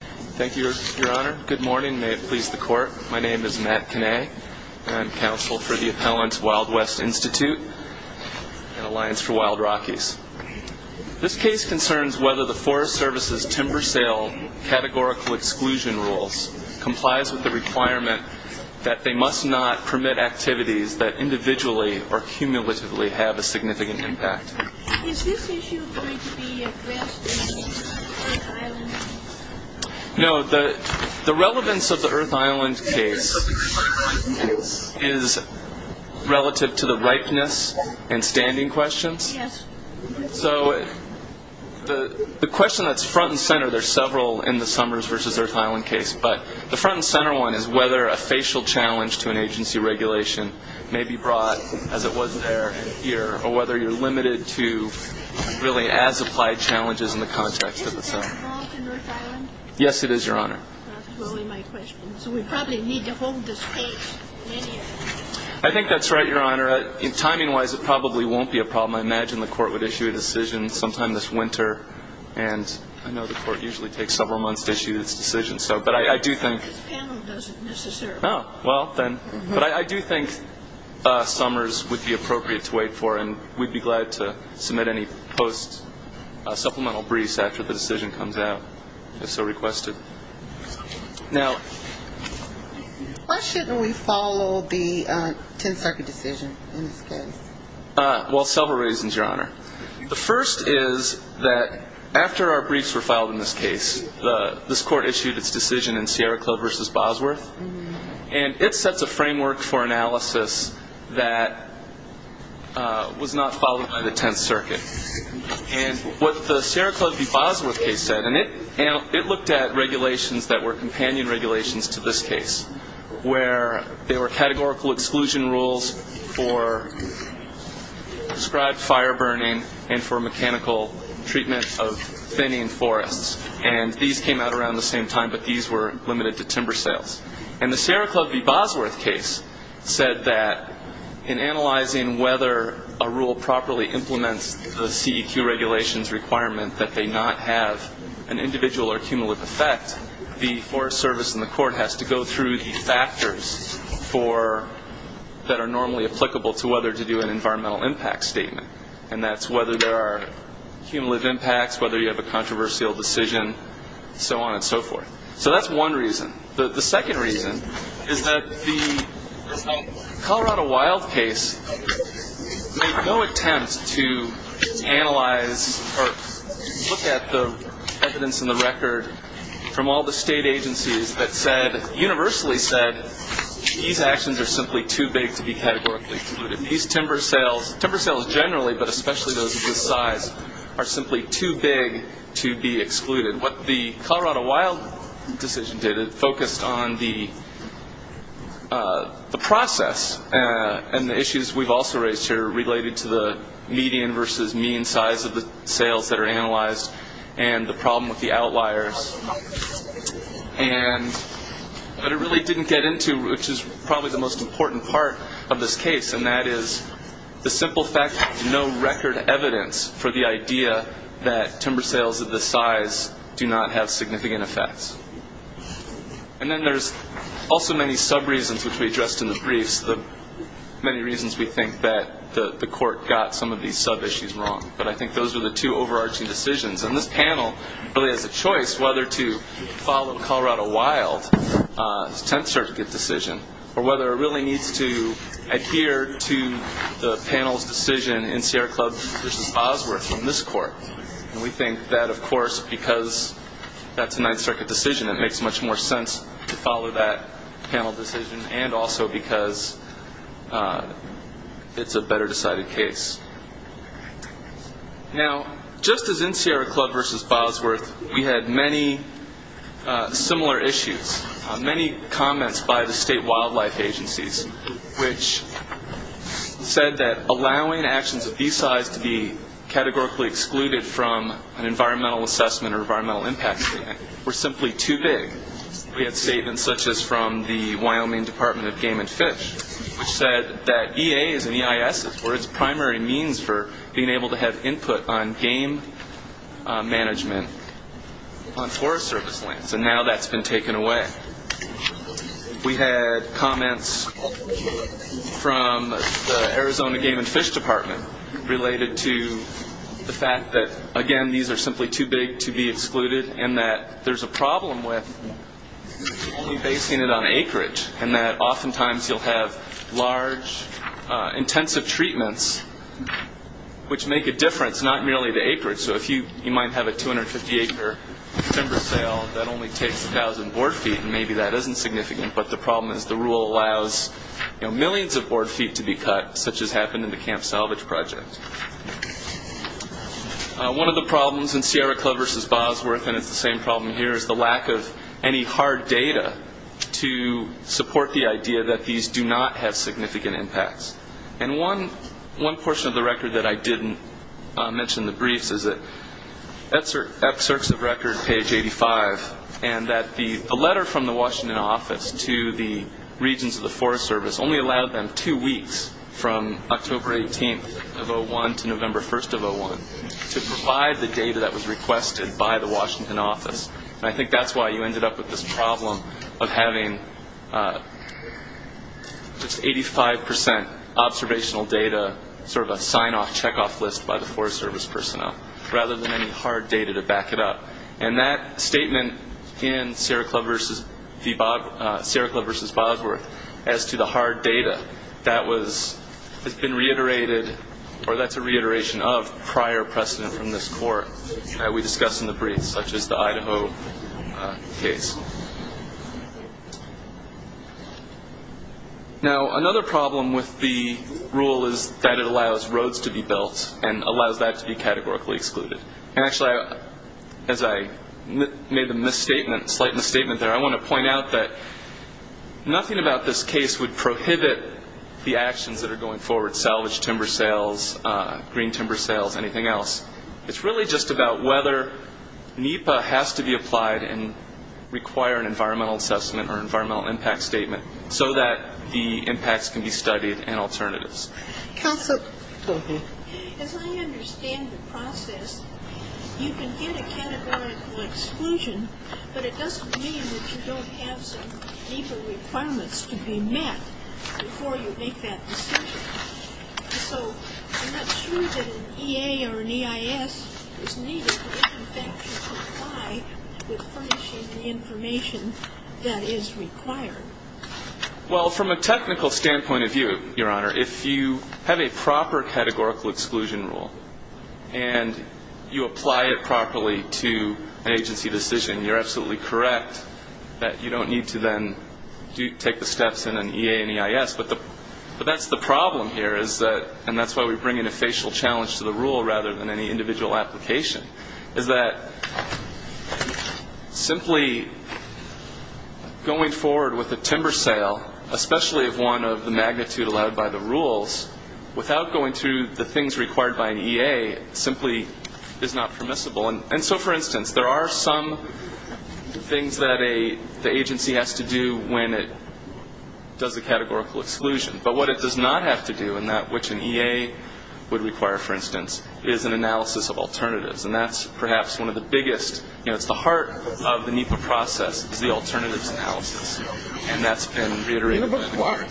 Thank you, Your Honor. Good morning. May it please the Court. My name is Matt Kinnay. I'm counsel for the appellant Wild West Institute and Alliance for Wild Rockies. This case concerns whether the Forest Service's timber sale categorical exclusion rules complies with the requirement that they must not permit activities that individually or cumulatively have a significant impact. Is this issue going to be addressed in the Earth Island case? No. The relevance of the Earth Island case is relative to the ripeness and standing questions. Yes. So the question that's front and center, there's several in the Summers v. Earth Island case, but the front and center one is whether a facial challenge to an agency regulation may be brought, as it was there and here, or whether you're limited to really as-applied challenges in the context of the summers. Isn't that involved in Earth Island? Yes, it is, Your Honor. That's really my question. So we probably need to hold this case many years. I think that's right, Your Honor. Timing-wise, it probably won't be a problem. I imagine the Court would issue a decision sometime this winter, and I know the Court usually takes several months to issue its decision. This panel doesn't necessarily. Oh, well, then. But I do think summers would be appropriate to wait for, and we'd be glad to submit any post-supplemental briefs after the decision comes out, if so requested. Now... Why shouldn't we follow the 10th Circuit decision in this case? Well, several reasons, Your Honor. The first is that after our briefs were filed in this case, this Court issued its decision in Sierra Club v. Bosworth, and it sets a framework for analysis that was not followed by the 10th Circuit. And what the Sierra Club v. Bosworth case said, and it looked at regulations that were companion regulations to this case, where there were categorical exclusion rules for prescribed fire burning and for mechanical treatment of thinning forests. And these came out around the same time, but these were limited to timber sales. And the Sierra Club v. Bosworth case said that in analyzing whether a rule properly implements the CEQ regulations requirement that they not have an individual or cumulative effect, the Forest Service and the Court has to go through the factors that are normally applicable to whether to do an environmental impact statement, and that's whether there are cumulative impacts, whether you have a controversial decision, so on and so forth. So that's one reason. The second reason is that the Colorado Wild case made no attempt to analyze or look at the evidence in the record from all the state agencies that said, universally said, these actions are simply too big to be categorically excluded. These timber sales, timber sales generally, but especially those of this size, are simply too big to be excluded. What the Colorado Wild decision did, it focused on the process and the issues we've also raised here related to the median versus mean size of the sales that are analyzed and the problem with the outliers. But it really didn't get into, which is probably the most important part of this case, and that is the simple fact that there's no record evidence for the idea that timber sales of this size do not have significant effects. And then there's also many sub-reasons, which we addressed in the briefs, the many reasons we think that the Court got some of these sub-issues wrong, but I think those are the two overarching decisions. And this panel really has a choice whether to follow Colorado Wild's Tenth Circuit decision or whether it really needs to adhere to the panel's decision in Sierra Club v. Osworth from this Court. And we think that, of course, because that's a Ninth Circuit decision, it makes much more sense to follow that panel decision and also because it's a better decided case. Now, just as in Sierra Club v. Osworth, we had many similar issues, many comments by the state wildlife agencies, which said that allowing actions of these size to be categorically excluded from an environmental assessment or environmental impact statement were simply too big. We had statements such as from the Wyoming Department of Game and Fish, which said that EA's and EIS's, were its primary means for being able to have input on game management on forest service lands, and now that's been taken away. We had comments from the Arizona Game and Fish Department related to the fact that, again, these are simply too big to be excluded and that there's a problem with only basing it on acreage and that oftentimes you'll have large, intensive treatments, which make a difference, not merely the acreage. So if you might have a 250-acre timber sale, that only takes 1,000 board feet, and maybe that isn't significant, but the problem is the rule allows millions of board feet to be cut, such as happened in the Camp Salvage Project. One of the problems in Sierra Club v. Osworth, and it's the same problem here, is the lack of any hard data to support the idea that these do not have significant impacts. One portion of the record that I didn't mention in the briefs is that excerpts of record, page 85, and that the letter from the Washington office to the regions of the Forest Service only allowed them two weeks from October 18th of 2001 to November 1st of 2001 to provide the data that was requested by the Washington office. And I think that's why you ended up with this problem of having 85% observational data, sort of a sign-off, check-off list by the Forest Service personnel, rather than any hard data to back it up. And that statement in Sierra Club v. Osworth as to the hard data, that's a reiteration of prior precedent from this court that we discussed in the briefs, such as the Idaho case. Now, another problem with the rule is that it allows roads to be built and allows that to be categorically excluded. And actually, as I made the misstatement, slight misstatement there, I want to point out that nothing about this case would prohibit the actions that are going forward, salvage timber sales, green timber sales, anything else. It's really just about whether NEPA has to be applied and require an environmental assessment or environmental impact statement so that the impacts can be studied and alternatives. As I understand the process, you can get a categorical exclusion, but it doesn't mean that you don't have some NEPA requirements to be met before you make that decision. So I'm not sure that an EA or an EIS is needed, but it in fact should comply with furnishing the information that is required. Well, from a technical standpoint of view, Your Honor, if you have a proper categorical exclusion rule and you apply it properly to an agency decision, you're absolutely correct that you don't need to then take the steps in an EA and EIS. But that's the problem here, and that's why we bring in a facial challenge to the rule rather than any individual application, is that simply going forward with a timber sale, especially if one of the magnitude allowed by the rules, without going through the things required by an EA simply is not permissible. And so, for instance, there are some things that the agency has to do when it does a categorical exclusion. But what it does not have to do, and that which an EA would require, for instance, is an analysis of alternatives. And that's perhaps one of the biggest, you know, it's the heart of the NEPA process, is the alternatives analysis. And that's been reiterated. But why?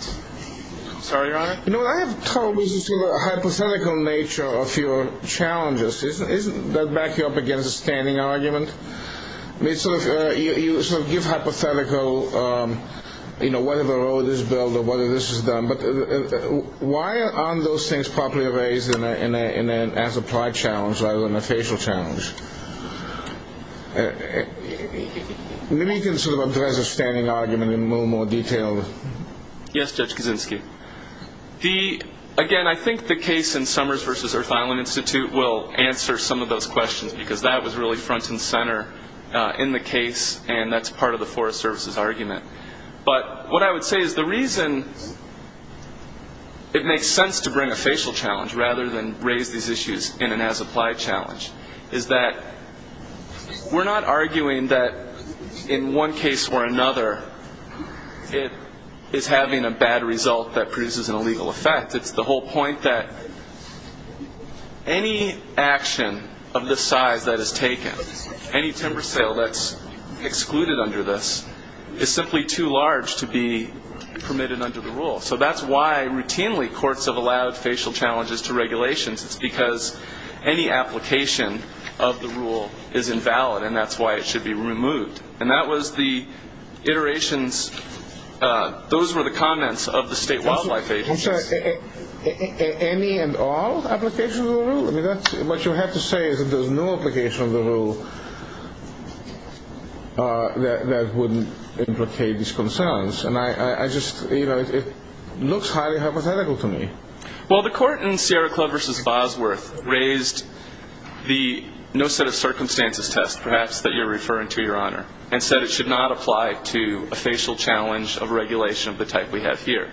I'm sorry, Your Honor? You know, I have told this hypothetical nature of your challenges. Doesn't that back you up against a standing argument? You sort of give hypothetical, you know, whether the road is built or whether this is done. But why aren't those things properly raised as a prior challenge rather than a facial challenge? Maybe you can sort of address a standing argument in a little more detail. Yes, Judge Kaczynski. Again, I think the case in Summers v. Earth Island Institute will answer some of those questions because that was really front and center in the case, and that's part of the Forest Service's argument. But what I would say is the reason it makes sense to bring a facial challenge rather than raise these issues in an as-applied challenge is that we're not arguing that in one case or another it is having a bad result that produces an illegal effect. It's the whole point that any action of this size that is taken, any timber sale that's excluded under this is simply too large to be permitted under the rule. So that's why routinely courts have allowed facial challenges to regulations. It's because any application of the rule is invalid, and that's why it should be removed. And that was the iterations. Those were the comments of the state wildlife agency. I'm sorry. Any and all applications of the rule? I mean, what you have to say is that there's no application of the rule that would implicate these concerns. And I just, you know, it looks highly hypothetical to me. Well, the court in Sierra Club v. Bosworth raised the no set of circumstances test, perhaps, that you're referring to, Your Honor, and said it should not apply to a facial challenge of regulation of the type we have here.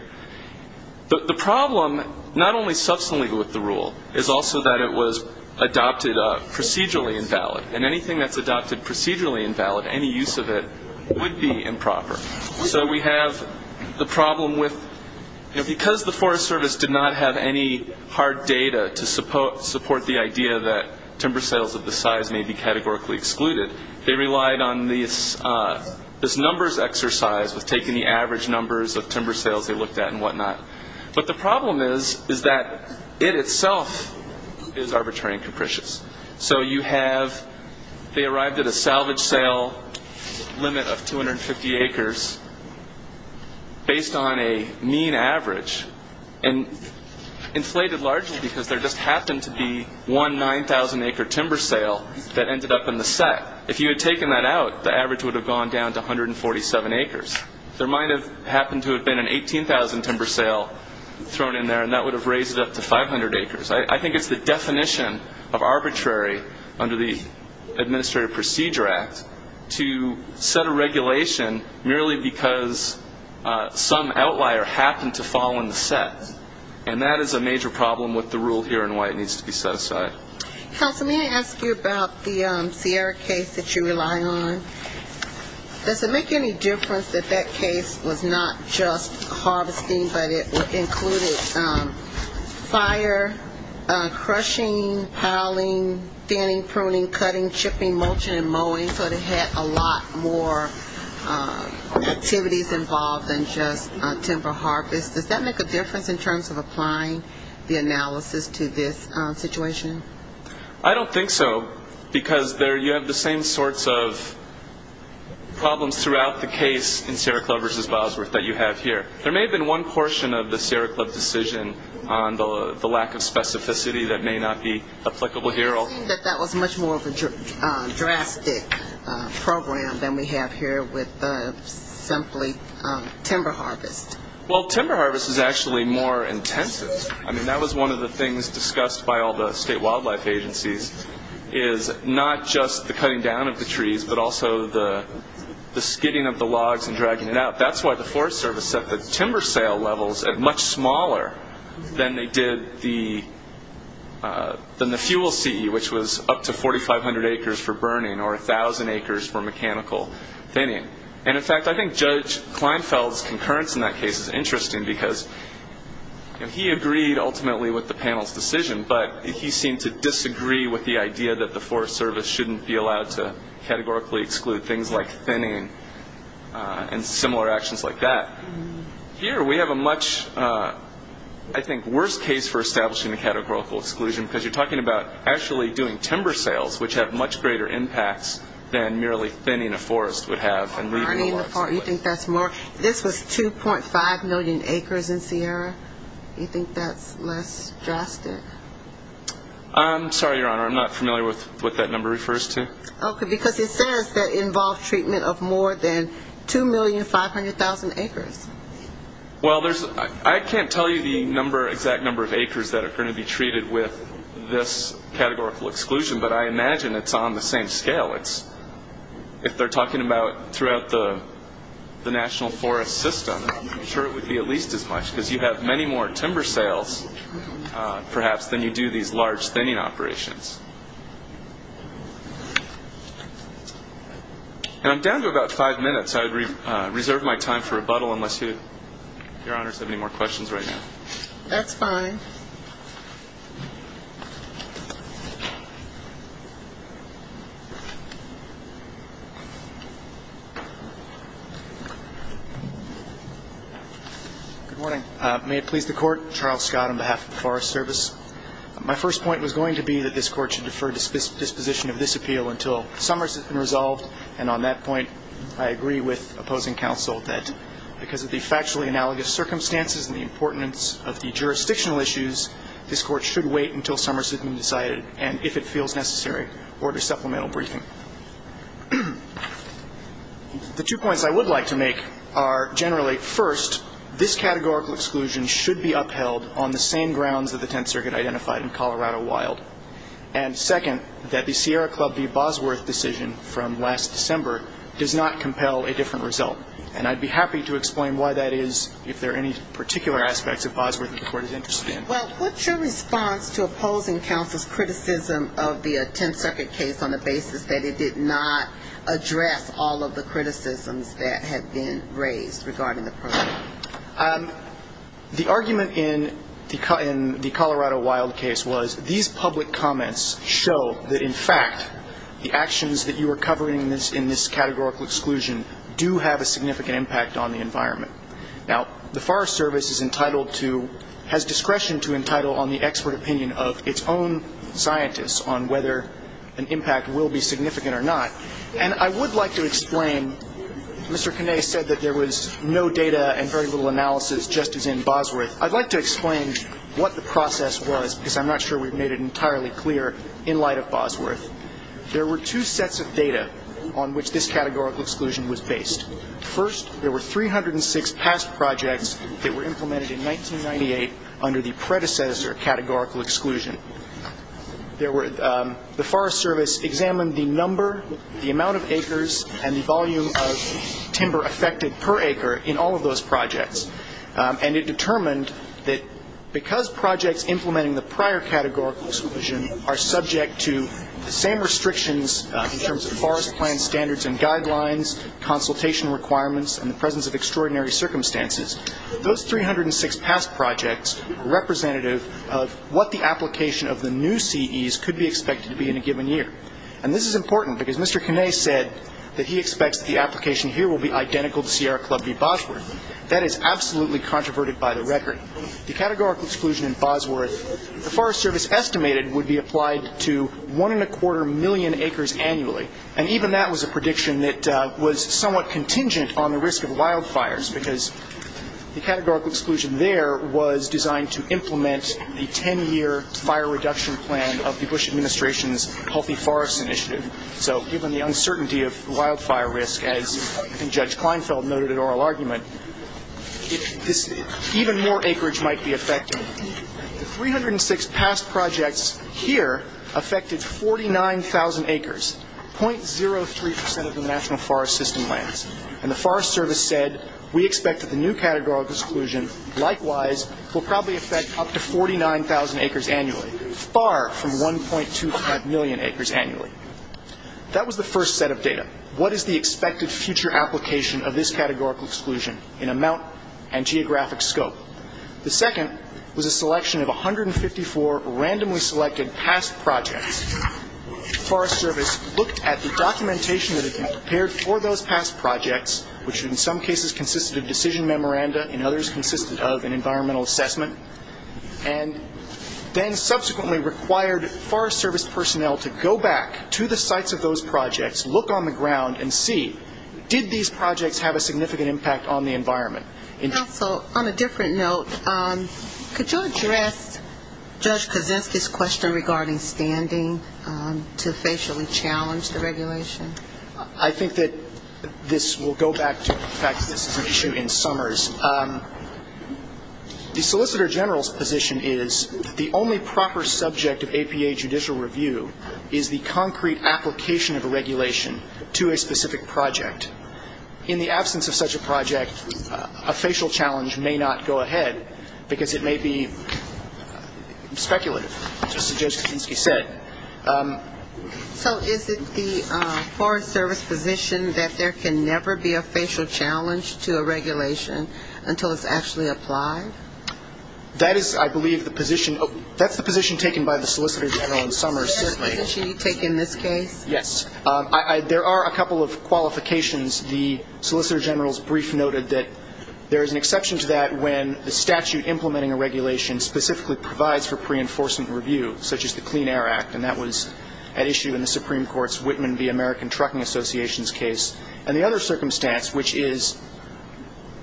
The problem, not only substantially with the rule, is also that it was adopted procedurally invalid, and anything that's adopted procedurally invalid, any use of it, would be improper. So we have the problem with, you know, because the Forest Service did not have any hard data to support the idea that timber sales of this size may be categorically excluded, they relied on this numbers exercise with taking the average numbers of timber sales they looked at and whatnot. But the problem is that it itself is arbitrary and capricious. So you have, they arrived at a salvage sale limit of 250 acres based on a mean average, and inflated largely because there just happened to be one 9,000-acre timber sale that ended up in the set. If you had taken that out, the average would have gone down to 147 acres. There might have happened to have been an 18,000 timber sale thrown in there, and that would have raised it up to 500 acres. I think it's the definition of arbitrary under the Administrative Procedure Act to set a regulation merely because some outlier happened to fall in the set. And that is a major problem with the rule here and why it needs to be set aside. Counsel, may I ask you about the Sierra case that you rely on? Does it make any difference that that case was not just harvesting, but it included fire, crushing, howling, thinning, pruning, cutting, chipping, mulching, and mowing, so it had a lot more activities involved than just timber harvest? Does that make a difference in terms of applying the analysis to this situation? I don't think so because you have the same sorts of problems throughout the case in Sierra Club v. Bosworth that you have here. There may have been one portion of the Sierra Club decision on the lack of specificity that may not be applicable here. But that was much more of a drastic program than we have here with simply timber harvest. Well, timber harvest is actually more intensive. I mean, that was one of the things discussed by all the state wildlife agencies is not just the cutting down of the trees, but also the skidding of the logs and dragging it out. That's why the Forest Service set the timber sale levels at much smaller than they did the fuel CE, which was up to 4,500 acres for burning or 1,000 acres for mechanical thinning. And, in fact, I think Judge Kleinfeld's concurrence in that case is interesting because he agreed ultimately with the panel's decision, but he seemed to disagree with the idea that the Forest Service shouldn't be allowed to categorically exclude things like thinning and similar actions like that. Here we have a much, I think, worse case for establishing a categorical exclusion because you're talking about actually doing timber sales, which have much greater impacts than merely thinning a forest would have. You think that's more? This was 2.5 million acres in Sierra. You think that's less drastic? I'm sorry, Your Honor. I'm not familiar with what that number refers to. Okay, because it says that involved treatment of more than 2,500,000 acres. Well, I can't tell you the exact number of acres that are going to be treated with this categorical exclusion, but I imagine it's on the same scale. If they're talking about throughout the national forest system, I'm sure it would be at least as much because you have many more timber sales, perhaps, than you do these large thinning operations. And I'm down to about five minutes. I reserve my time for rebuttal unless Your Honors have any more questions right now. That's fine. Good morning. May it please the Court. Charles Scott on behalf of the Forest Service. My first point was going to be that this Court should defer disposition of this appeal until Summers has been resolved, and on that point, I agree with opposing counsel that because of the factually analogous circumstances and the importance of the jurisdictional issues, this Court should wait until Summers has been decided, and if it feels necessary, order supplemental briefing. The two points I would like to make are generally, first, this categorical exclusion should be upheld on the same grounds that the Tenth Circuit identified in Colorado Wild, and second, that the Sierra Club v. Bosworth decision from last December does not compel a different result, and I'd be happy to explain why that is if there are any particular aspects of Bosworth that the Court is interested in. Well, what's your response to opposing counsel's criticism of the Tenth Circuit case on the basis that it did not address all of the criticisms that have been raised regarding the program? The argument in the Colorado Wild case was these public comments show that, in fact, the actions that you are covering in this categorical exclusion do have a significant impact on the environment. Now, the Forest Service is entitled to, has discretion to entitle on the expert opinion of its own scientists on whether an impact will be significant or not, and I would like to explain, Mr. Canais said that there was no data and very little analysis, just as in Bosworth. I'd like to explain what the process was, because I'm not sure we've made it entirely clear, in light of Bosworth. There were two sets of data on which this categorical exclusion was based. First, there were 306 past projects that were implemented in 1998 under the predecessor categorical exclusion. The Forest Service examined the number, the amount of acres, and the volume of timber affected per acre in all of those projects, and it determined that because projects implementing the prior categorical exclusion are subject to the same restrictions in terms of forest plan standards and guidelines, consultation requirements, and the presence of extraordinary circumstances, those 306 past projects are representative of what the application of the new CEs could be expected to be in a given year. And this is important, because Mr. Canais said that he expects the application here will be identical to Sierra Club v. Bosworth. That is absolutely controverted by the record. The categorical exclusion in Bosworth, the Forest Service estimated, would be applied to one and a quarter million acres annually, and even that was a prediction that was somewhat contingent on the risk of wildfires, because the categorical exclusion there was designed to implement the 10-year fire reduction plan of the Bush Administration's Healthy Forests Initiative. So given the uncertainty of wildfire risk, as I think Judge Kleinfeld noted in oral argument, even more acreage might be affected. The 306 past projects here affected 49,000 acres, 0.03% of the National Forest System lands, and the Forest Service said we expect that the new categorical exclusion, likewise, will probably affect up to 49,000 acres annually, far from 1.25 million acres annually. That was the first set of data. What is the expected future application of this categorical exclusion in amount and geographic scope? The second was a selection of 154 randomly selected past projects. The Forest Service looked at the documentation that had been prepared for those past projects, which in some cases consisted of decision memoranda, in others consisted of an environmental assessment, and then subsequently required Forest Service personnel to go back to the sites of those projects, look on the ground, and see did these projects have a significant impact on the environment. Counsel, on a different note, could you address Judge Kozinski's question regarding standing to facially challenge the regulation? I think that this will go back to the fact that this is an issue in summers. The Solicitor General's position is that the only proper subject of APA judicial review is the concrete application of a regulation to a specific project. In the absence of such a project, a facial challenge may not go ahead, because it may be speculative, just as Judge Kozinski said. So is it the Forest Service position that there can never be a facial challenge to a regulation until it's actually applied? That is, I believe, the position. That's the position taken by the Solicitor General in summers. Is that the position you take in this case? Yes. There are a couple of qualifications. The Solicitor General's brief noted that there is an exception to that when the statute implementing a regulation specifically provides for pre-enforcement review, such as the Clean Air Act, and that was at issue in the Supreme Court's Whitman v. American Trucking Associations case. And the other circumstance, which is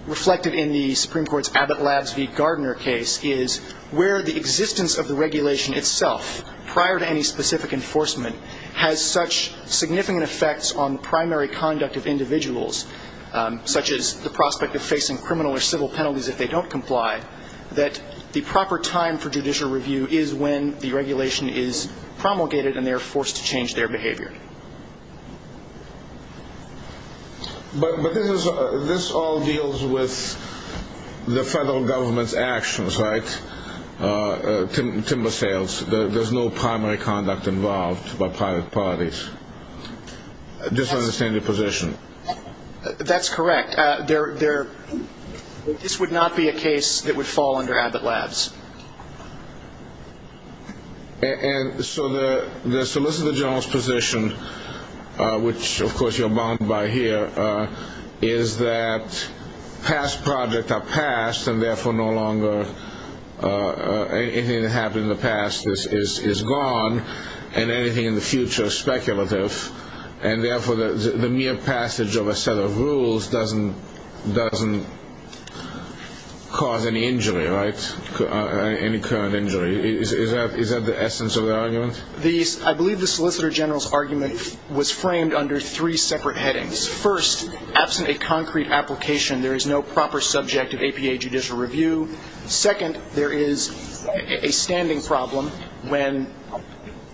reflected in the Supreme Court's Abbott Labs v. Gardner case, is where the existence of the regulation itself, prior to any specific enforcement, has such significant effects on primary conduct of individuals, such as the prospect of facing criminal or civil penalties if they don't comply, that the proper time for judicial review is when the regulation is promulgated and they are forced to change their behavior. But this all deals with the federal government's actions, right? Timber sales. There's no primary conduct involved by private parties. I just don't understand your position. That's correct. This would not be a case that would fall under Abbott Labs. And so the Solicitor General's position, which, of course, you're bound by here, is that past projects are past, and therefore no longer anything that happened in the past is gone, and anything in the future is speculative, and therefore the mere passage of a set of rules doesn't cause any injury, right? Any current injury. Is that the essence of the argument? I believe the Solicitor General's argument was framed under three separate headings. First, absent a concrete application, there is no proper subject of APA judicial review. Second, there is a standing problem when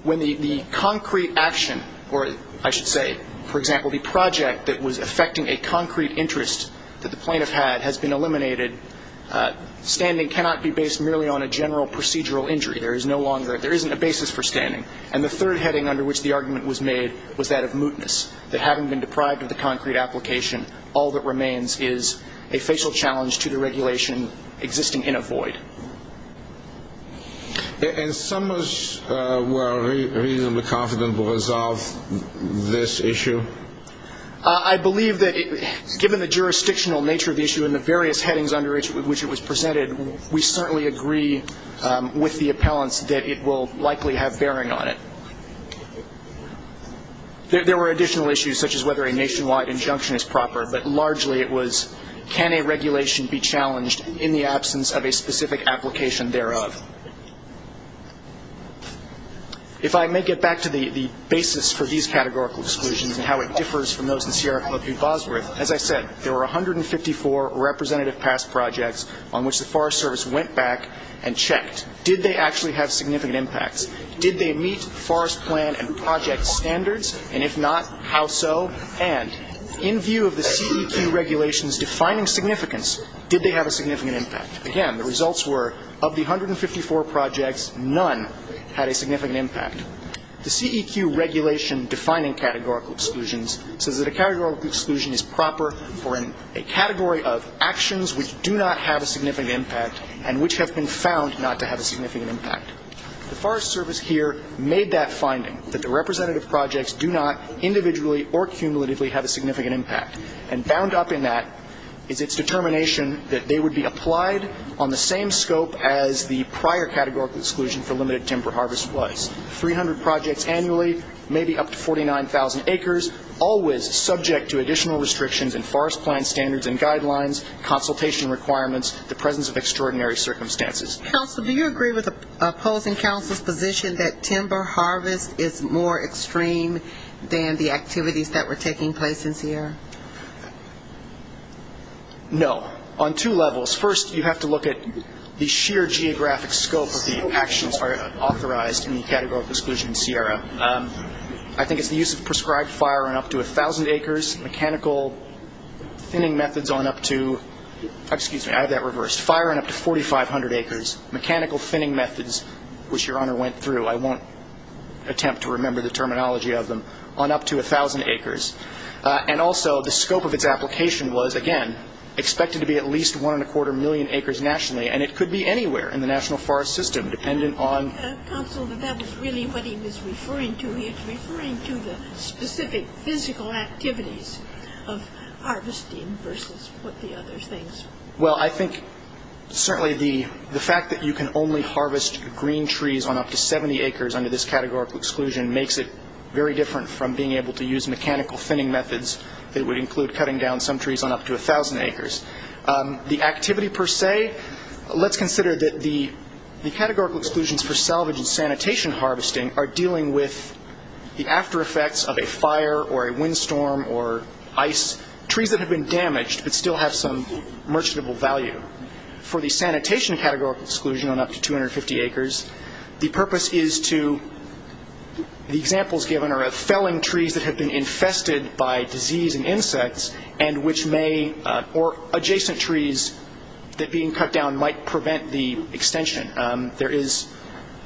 the concrete action, or I should say, for example, the project that was affecting a concrete interest that the plaintiff had has been eliminated. Standing cannot be based merely on a general procedural injury. There is no longer ñ there isn't a basis for standing. And the third heading under which the argument was made was that of mootness, that having been deprived of the concrete application, all that remains is a facial challenge to the regulation existing in a void. And some were reasonably confident to resolve this issue? I believe that given the jurisdictional nature of the issue and the various headings under which it was presented, we certainly agree with the appellants that it will likely have bearing on it. There were additional issues, such as whether a nationwide injunction is proper, but largely it was can a regulation be challenged in the absence of a specific application thereof. If I may get back to the basis for these categorical exclusions and how it differs from those in Sierra Club v. Bosworth, as I said, there were 154 representative past projects on which the Forest Service went back and checked. Did they actually have significant impacts? Did they meet forest plan and project standards? And if not, how so? And in view of the CEQ regulations defining significance, did they have a significant impact? Again, the results were of the 154 projects, none had a significant impact. The CEQ regulation defining categorical exclusions says that a categorical exclusion is proper for a category of actions which do not have a significant impact and which have been found not to have a significant impact. The Forest Service here made that finding, that the representative projects do not individually or cumulatively have a significant impact. And bound up in that is its determination that they would be applied on the same scope as the prior categorical exclusion for limited timber harvest was. 300 projects annually, maybe up to 49,000 acres, always subject to additional restrictions in forest plan standards and guidelines, consultation requirements, the presence of extraordinary circumstances. Counsel, do you agree with opposing counsel's position that timber harvest is more extreme than the activities that were taking place in Sierra? No. On two levels. First, you have to look at the sheer geographic scope of the actions authorized in the categorical exclusion in Sierra. I think it's the use of prescribed fire on up to 1,000 acres, mechanical thinning methods on up to, excuse me, I have that reversed, fire on up to 4,500 acres, mechanical thinning methods, which Your Honor went through, I won't attempt to remember the terminology of them, on up to 1,000 acres. And also the scope of its application was, again, expected to be at least one and a quarter million acres nationally, and it could be anywhere in the national forest system dependent on. Counsel, that was really what he was referring to. I think he was referring to the specific physical activities of harvesting versus what the other things were. Well, I think certainly the fact that you can only harvest green trees on up to 70 acres under this categorical exclusion makes it very different from being able to use mechanical thinning methods that would include cutting down some trees on up to 1,000 acres. The activity per se, let's consider that the categorical exclusions for salvage and sanitation harvesting are dealing with the after effects of a fire or a windstorm or ice, trees that have been damaged but still have some merchantable value. For the sanitation categorical exclusion on up to 250 acres, the purpose is to, the examples given are felling trees that have been infested by disease and insects, and which may, or adjacent trees that being cut down might prevent the extension. There is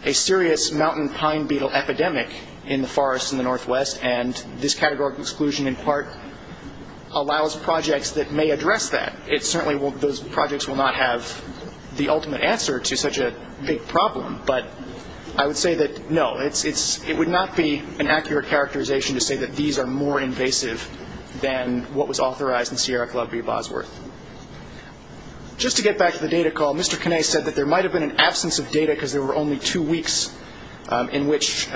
a serious mountain pine beetle epidemic in the forests in the northwest, and this categorical exclusion in part allows projects that may address that. It certainly, those projects will not have the ultimate answer to such a big problem, but I would say that no, it would not be an accurate characterization to say that these are more invasive than what was authorized in Sierra Club v. Bosworth. Just to get back to the data call, Mr. Canais said that there might have been an absence of data because there were only two weeks in which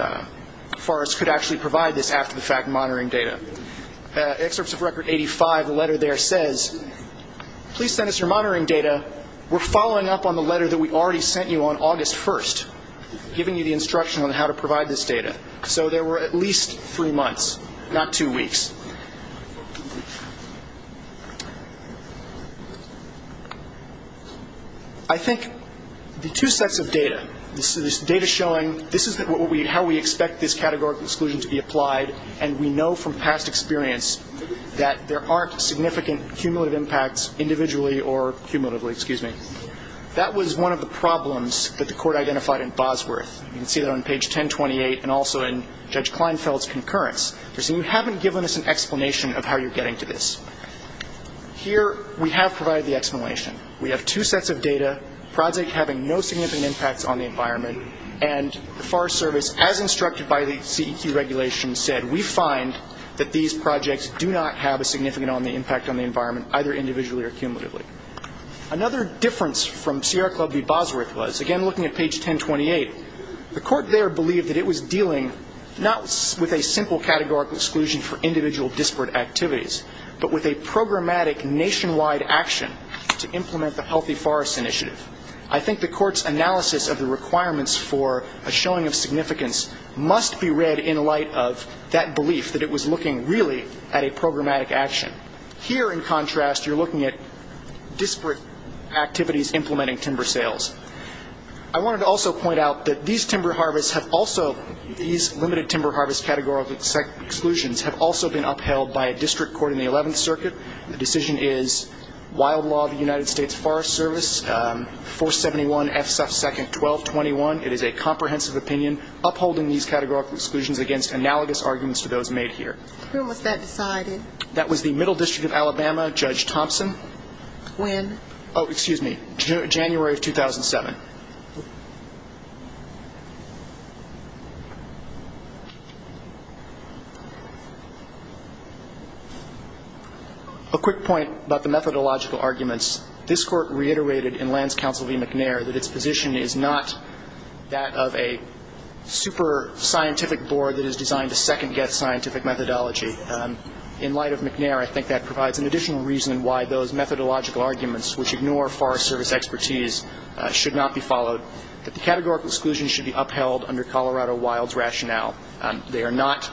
forests could actually provide this after the fact monitoring data. Excerpts of Record 85, the letter there says, please send us your monitoring data, we're following up on the letter that we already sent you on August 1st, giving you the instruction on how to provide this data. So there were at least three months, not two weeks. I think the two sets of data, this data showing this is how we expect this categorical exclusion to be applied, and we know from past experience that there aren't significant cumulative impacts individually or cumulatively. Excuse me. That was one of the problems that the Court identified in Bosworth. You can see that on page 1028 and also in Judge Kleinfeld's concurrence. They're saying you haven't given us an explanation of how you're getting to this. Here we have provided the explanation. We have two sets of data, project having no significant impacts on the environment, and the Forest Service, as instructed by the CEQ regulation, said we find that these projects do not have a significant impact on the environment, either individually or cumulatively. Another difference from Sierra Club v. Bosworth was, again looking at page 1028, the Court there believed that it was dealing not with a simple categorical exclusion for individual disparate activities, but with a programmatic nationwide action to implement the Healthy Forests Initiative. I think the Court's analysis of the requirements for a showing of significance must be read in light of that belief that it was looking really at a programmatic action. Here, in contrast, you're looking at disparate activities implementing timber sales. I wanted to also point out that these timber harvests have also, these limited timber harvest categorical exclusions have also been upheld by a district court in the 11th Circuit. The decision is wild law of the United States Forest Service, 471 F. Suff. 2nd. 1221. It is a comprehensive opinion upholding these categorical exclusions against analogous arguments to those made here. When was that decided? That was the Middle District of Alabama, Judge Thompson. When? Oh, excuse me. January of 2007. A quick point about the methodological arguments. This Court reiterated in Lance Counsel v. McNair that its position is not that of a super scientific board that is designed to second-guess scientific methodology. In light of McNair, I think that provides an additional reason why those methodological arguments, which ignore Forest Service expertise, should not be followed, that the categorical exclusions should be upheld under Colorado Wild's rationale. They are not.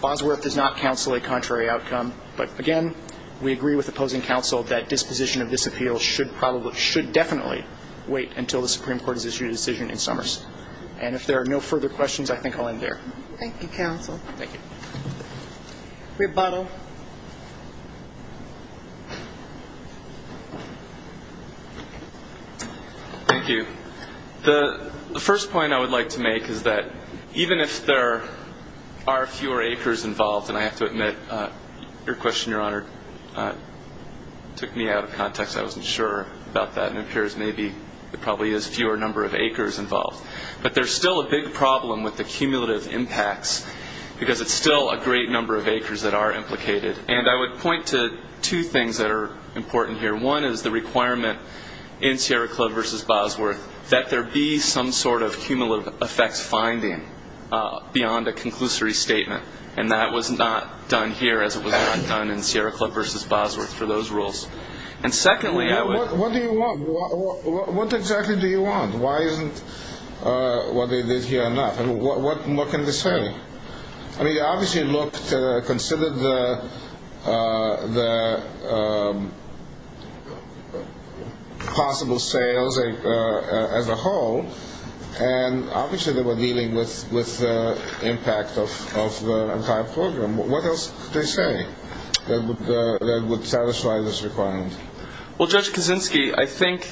Bosworth does not counsel a contrary outcome. But, again, we agree with opposing counsel that disposition of this appeal should probably, should definitely wait until the Supreme Court has issued a decision in Summers. And if there are no further questions, I think I'll end there. Thank you, counsel. Thank you. Rebuttal. Thank you. The first point I would like to make is that even if there are fewer acres involved, and I have to admit your question, Your Honor, took me out of context. I wasn't sure about that. It appears maybe there probably is fewer number of acres involved. But there's still a big problem with the cumulative impacts because it's still a great number of acres that are implicated. And I would point to two things that are important here. One is the requirement in Sierra Club v. Bosworth that there be some sort of cumulative effects finding beyond a conclusory statement, and that was not done here as it was not done in Sierra Club v. Bosworth for those rules. And, secondly, I would... What do you want? What exactly do you want? Why isn't what they did here enough? And what can they say? I mean, they obviously looked, considered the possible sales as a whole, and obviously they were dealing with the impact of the entire program. What else could they say that would satisfy this requirement? Well, Judge Kaczynski, I think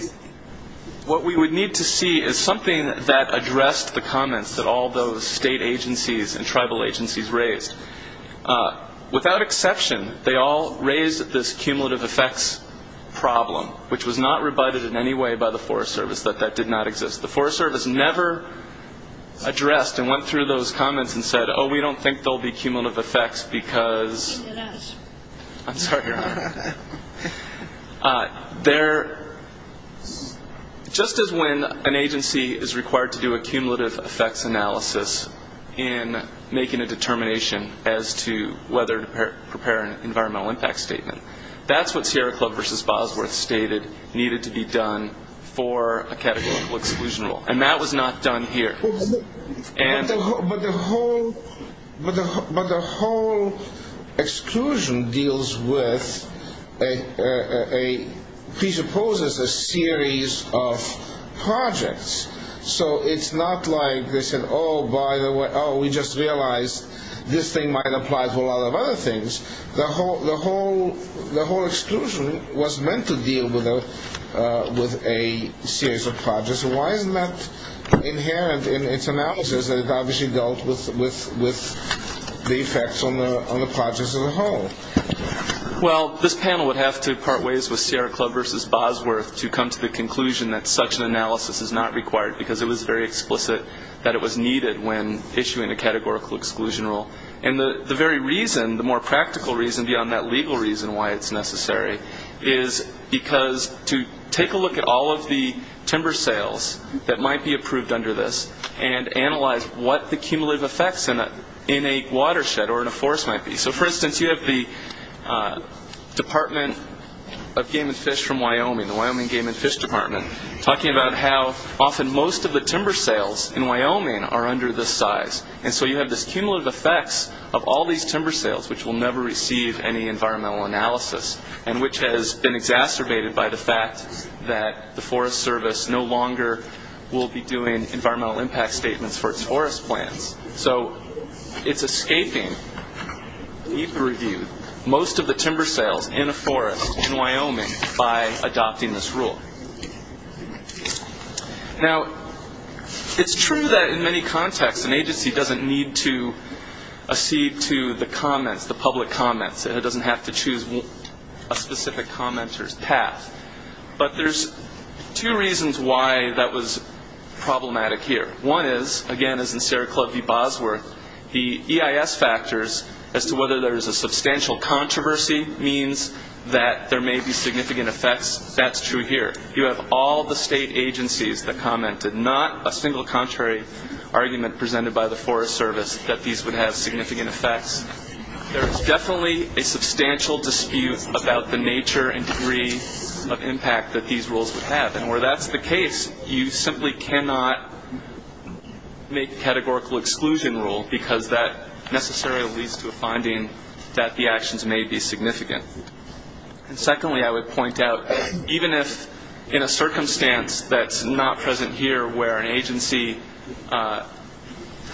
what we would need to see is something that addressed the comments that all those state agencies and tribal agencies raised. Without exception, they all raised this cumulative effects problem, which was not rebutted in any way by the Forest Service, that that did not exist. The Forest Service never addressed and went through those comments and said, Oh, we don't think there will be cumulative effects because... I'm sorry, Your Honor. Just as when an agency is required to do a cumulative effects analysis in making a determination as to whether to prepare an environmental impact statement, that's what Sierra Club v. Bosworth stated needed to be done for a categorical exclusion rule, and that was not done here. But the whole exclusion deals with, presupposes a series of projects. So it's not like they said, Oh, by the way, we just realized this thing might apply to a lot of other things. The whole exclusion was meant to deal with a series of projects. Why isn't that inherent in its analysis? It obviously dealt with the effects on the projects as a whole. Well, this panel would have to part ways with Sierra Club v. Bosworth to come to the conclusion that such an analysis is not required because it was very explicit that it was needed when issuing a categorical exclusion rule. And the very reason, the more practical reason beyond that legal reason why it's necessary, is because to take a look at all of the timber sales that might be approved under this and analyze what the cumulative effects in a watershed or in a forest might be. So, for instance, you have the Department of Game and Fish from Wyoming, the Wyoming Game and Fish Department, talking about how often most of the timber sales in Wyoming are under this size. And so you have this cumulative effects of all these timber sales which will never receive any environmental analysis and which has been exacerbated by the fact that the Forest Service no longer will be doing environmental impact statements for its forest plans. So it's escaping, even reviewed, most of the timber sales in a forest in Wyoming by adopting this rule. Now, it's true that in many contexts an agency doesn't need to accede to the comments, the public comments. It doesn't have to choose a specific commenter's path. But there's two reasons why that was problematic here. One is, again, as in Sierra Club v. Bosworth, the EIS factors as to whether there's a substantial controversy means that there may be significant effects. That's true here. You have all the state agencies that commented, not a single contrary argument presented by the Forest Service that these would have significant effects. There's definitely a substantial dispute about the nature and degree of impact that these rules would have. And where that's the case, you simply cannot make a categorical exclusion rule because that necessarily leads to a finding that the actions may be significant. And secondly, I would point out, even if in a circumstance that's not present here where an agency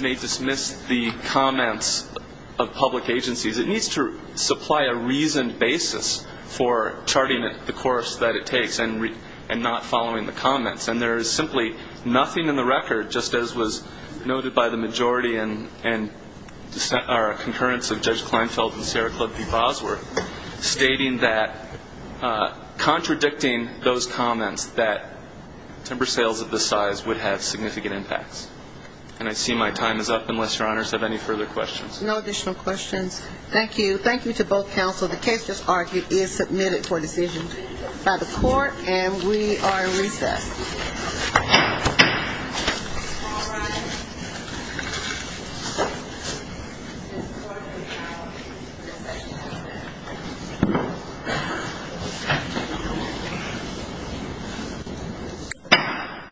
may dismiss the comments of public agencies, it needs to supply a reasoned basis for charting the course that it takes and not following the comments. And there is simply nothing in the record, just as was noted by the majority and concurrence of Judge Kleinfeld and Sierra Club v. Bosworth, stating that contradicting those comments that timber sales of this size would have significant impacts. And I see my time is up unless Your Honors have any further questions. No additional questions. Thank you. Thank you to both counsel. So the case is argued, is submitted for decision by the court, and we are recessed.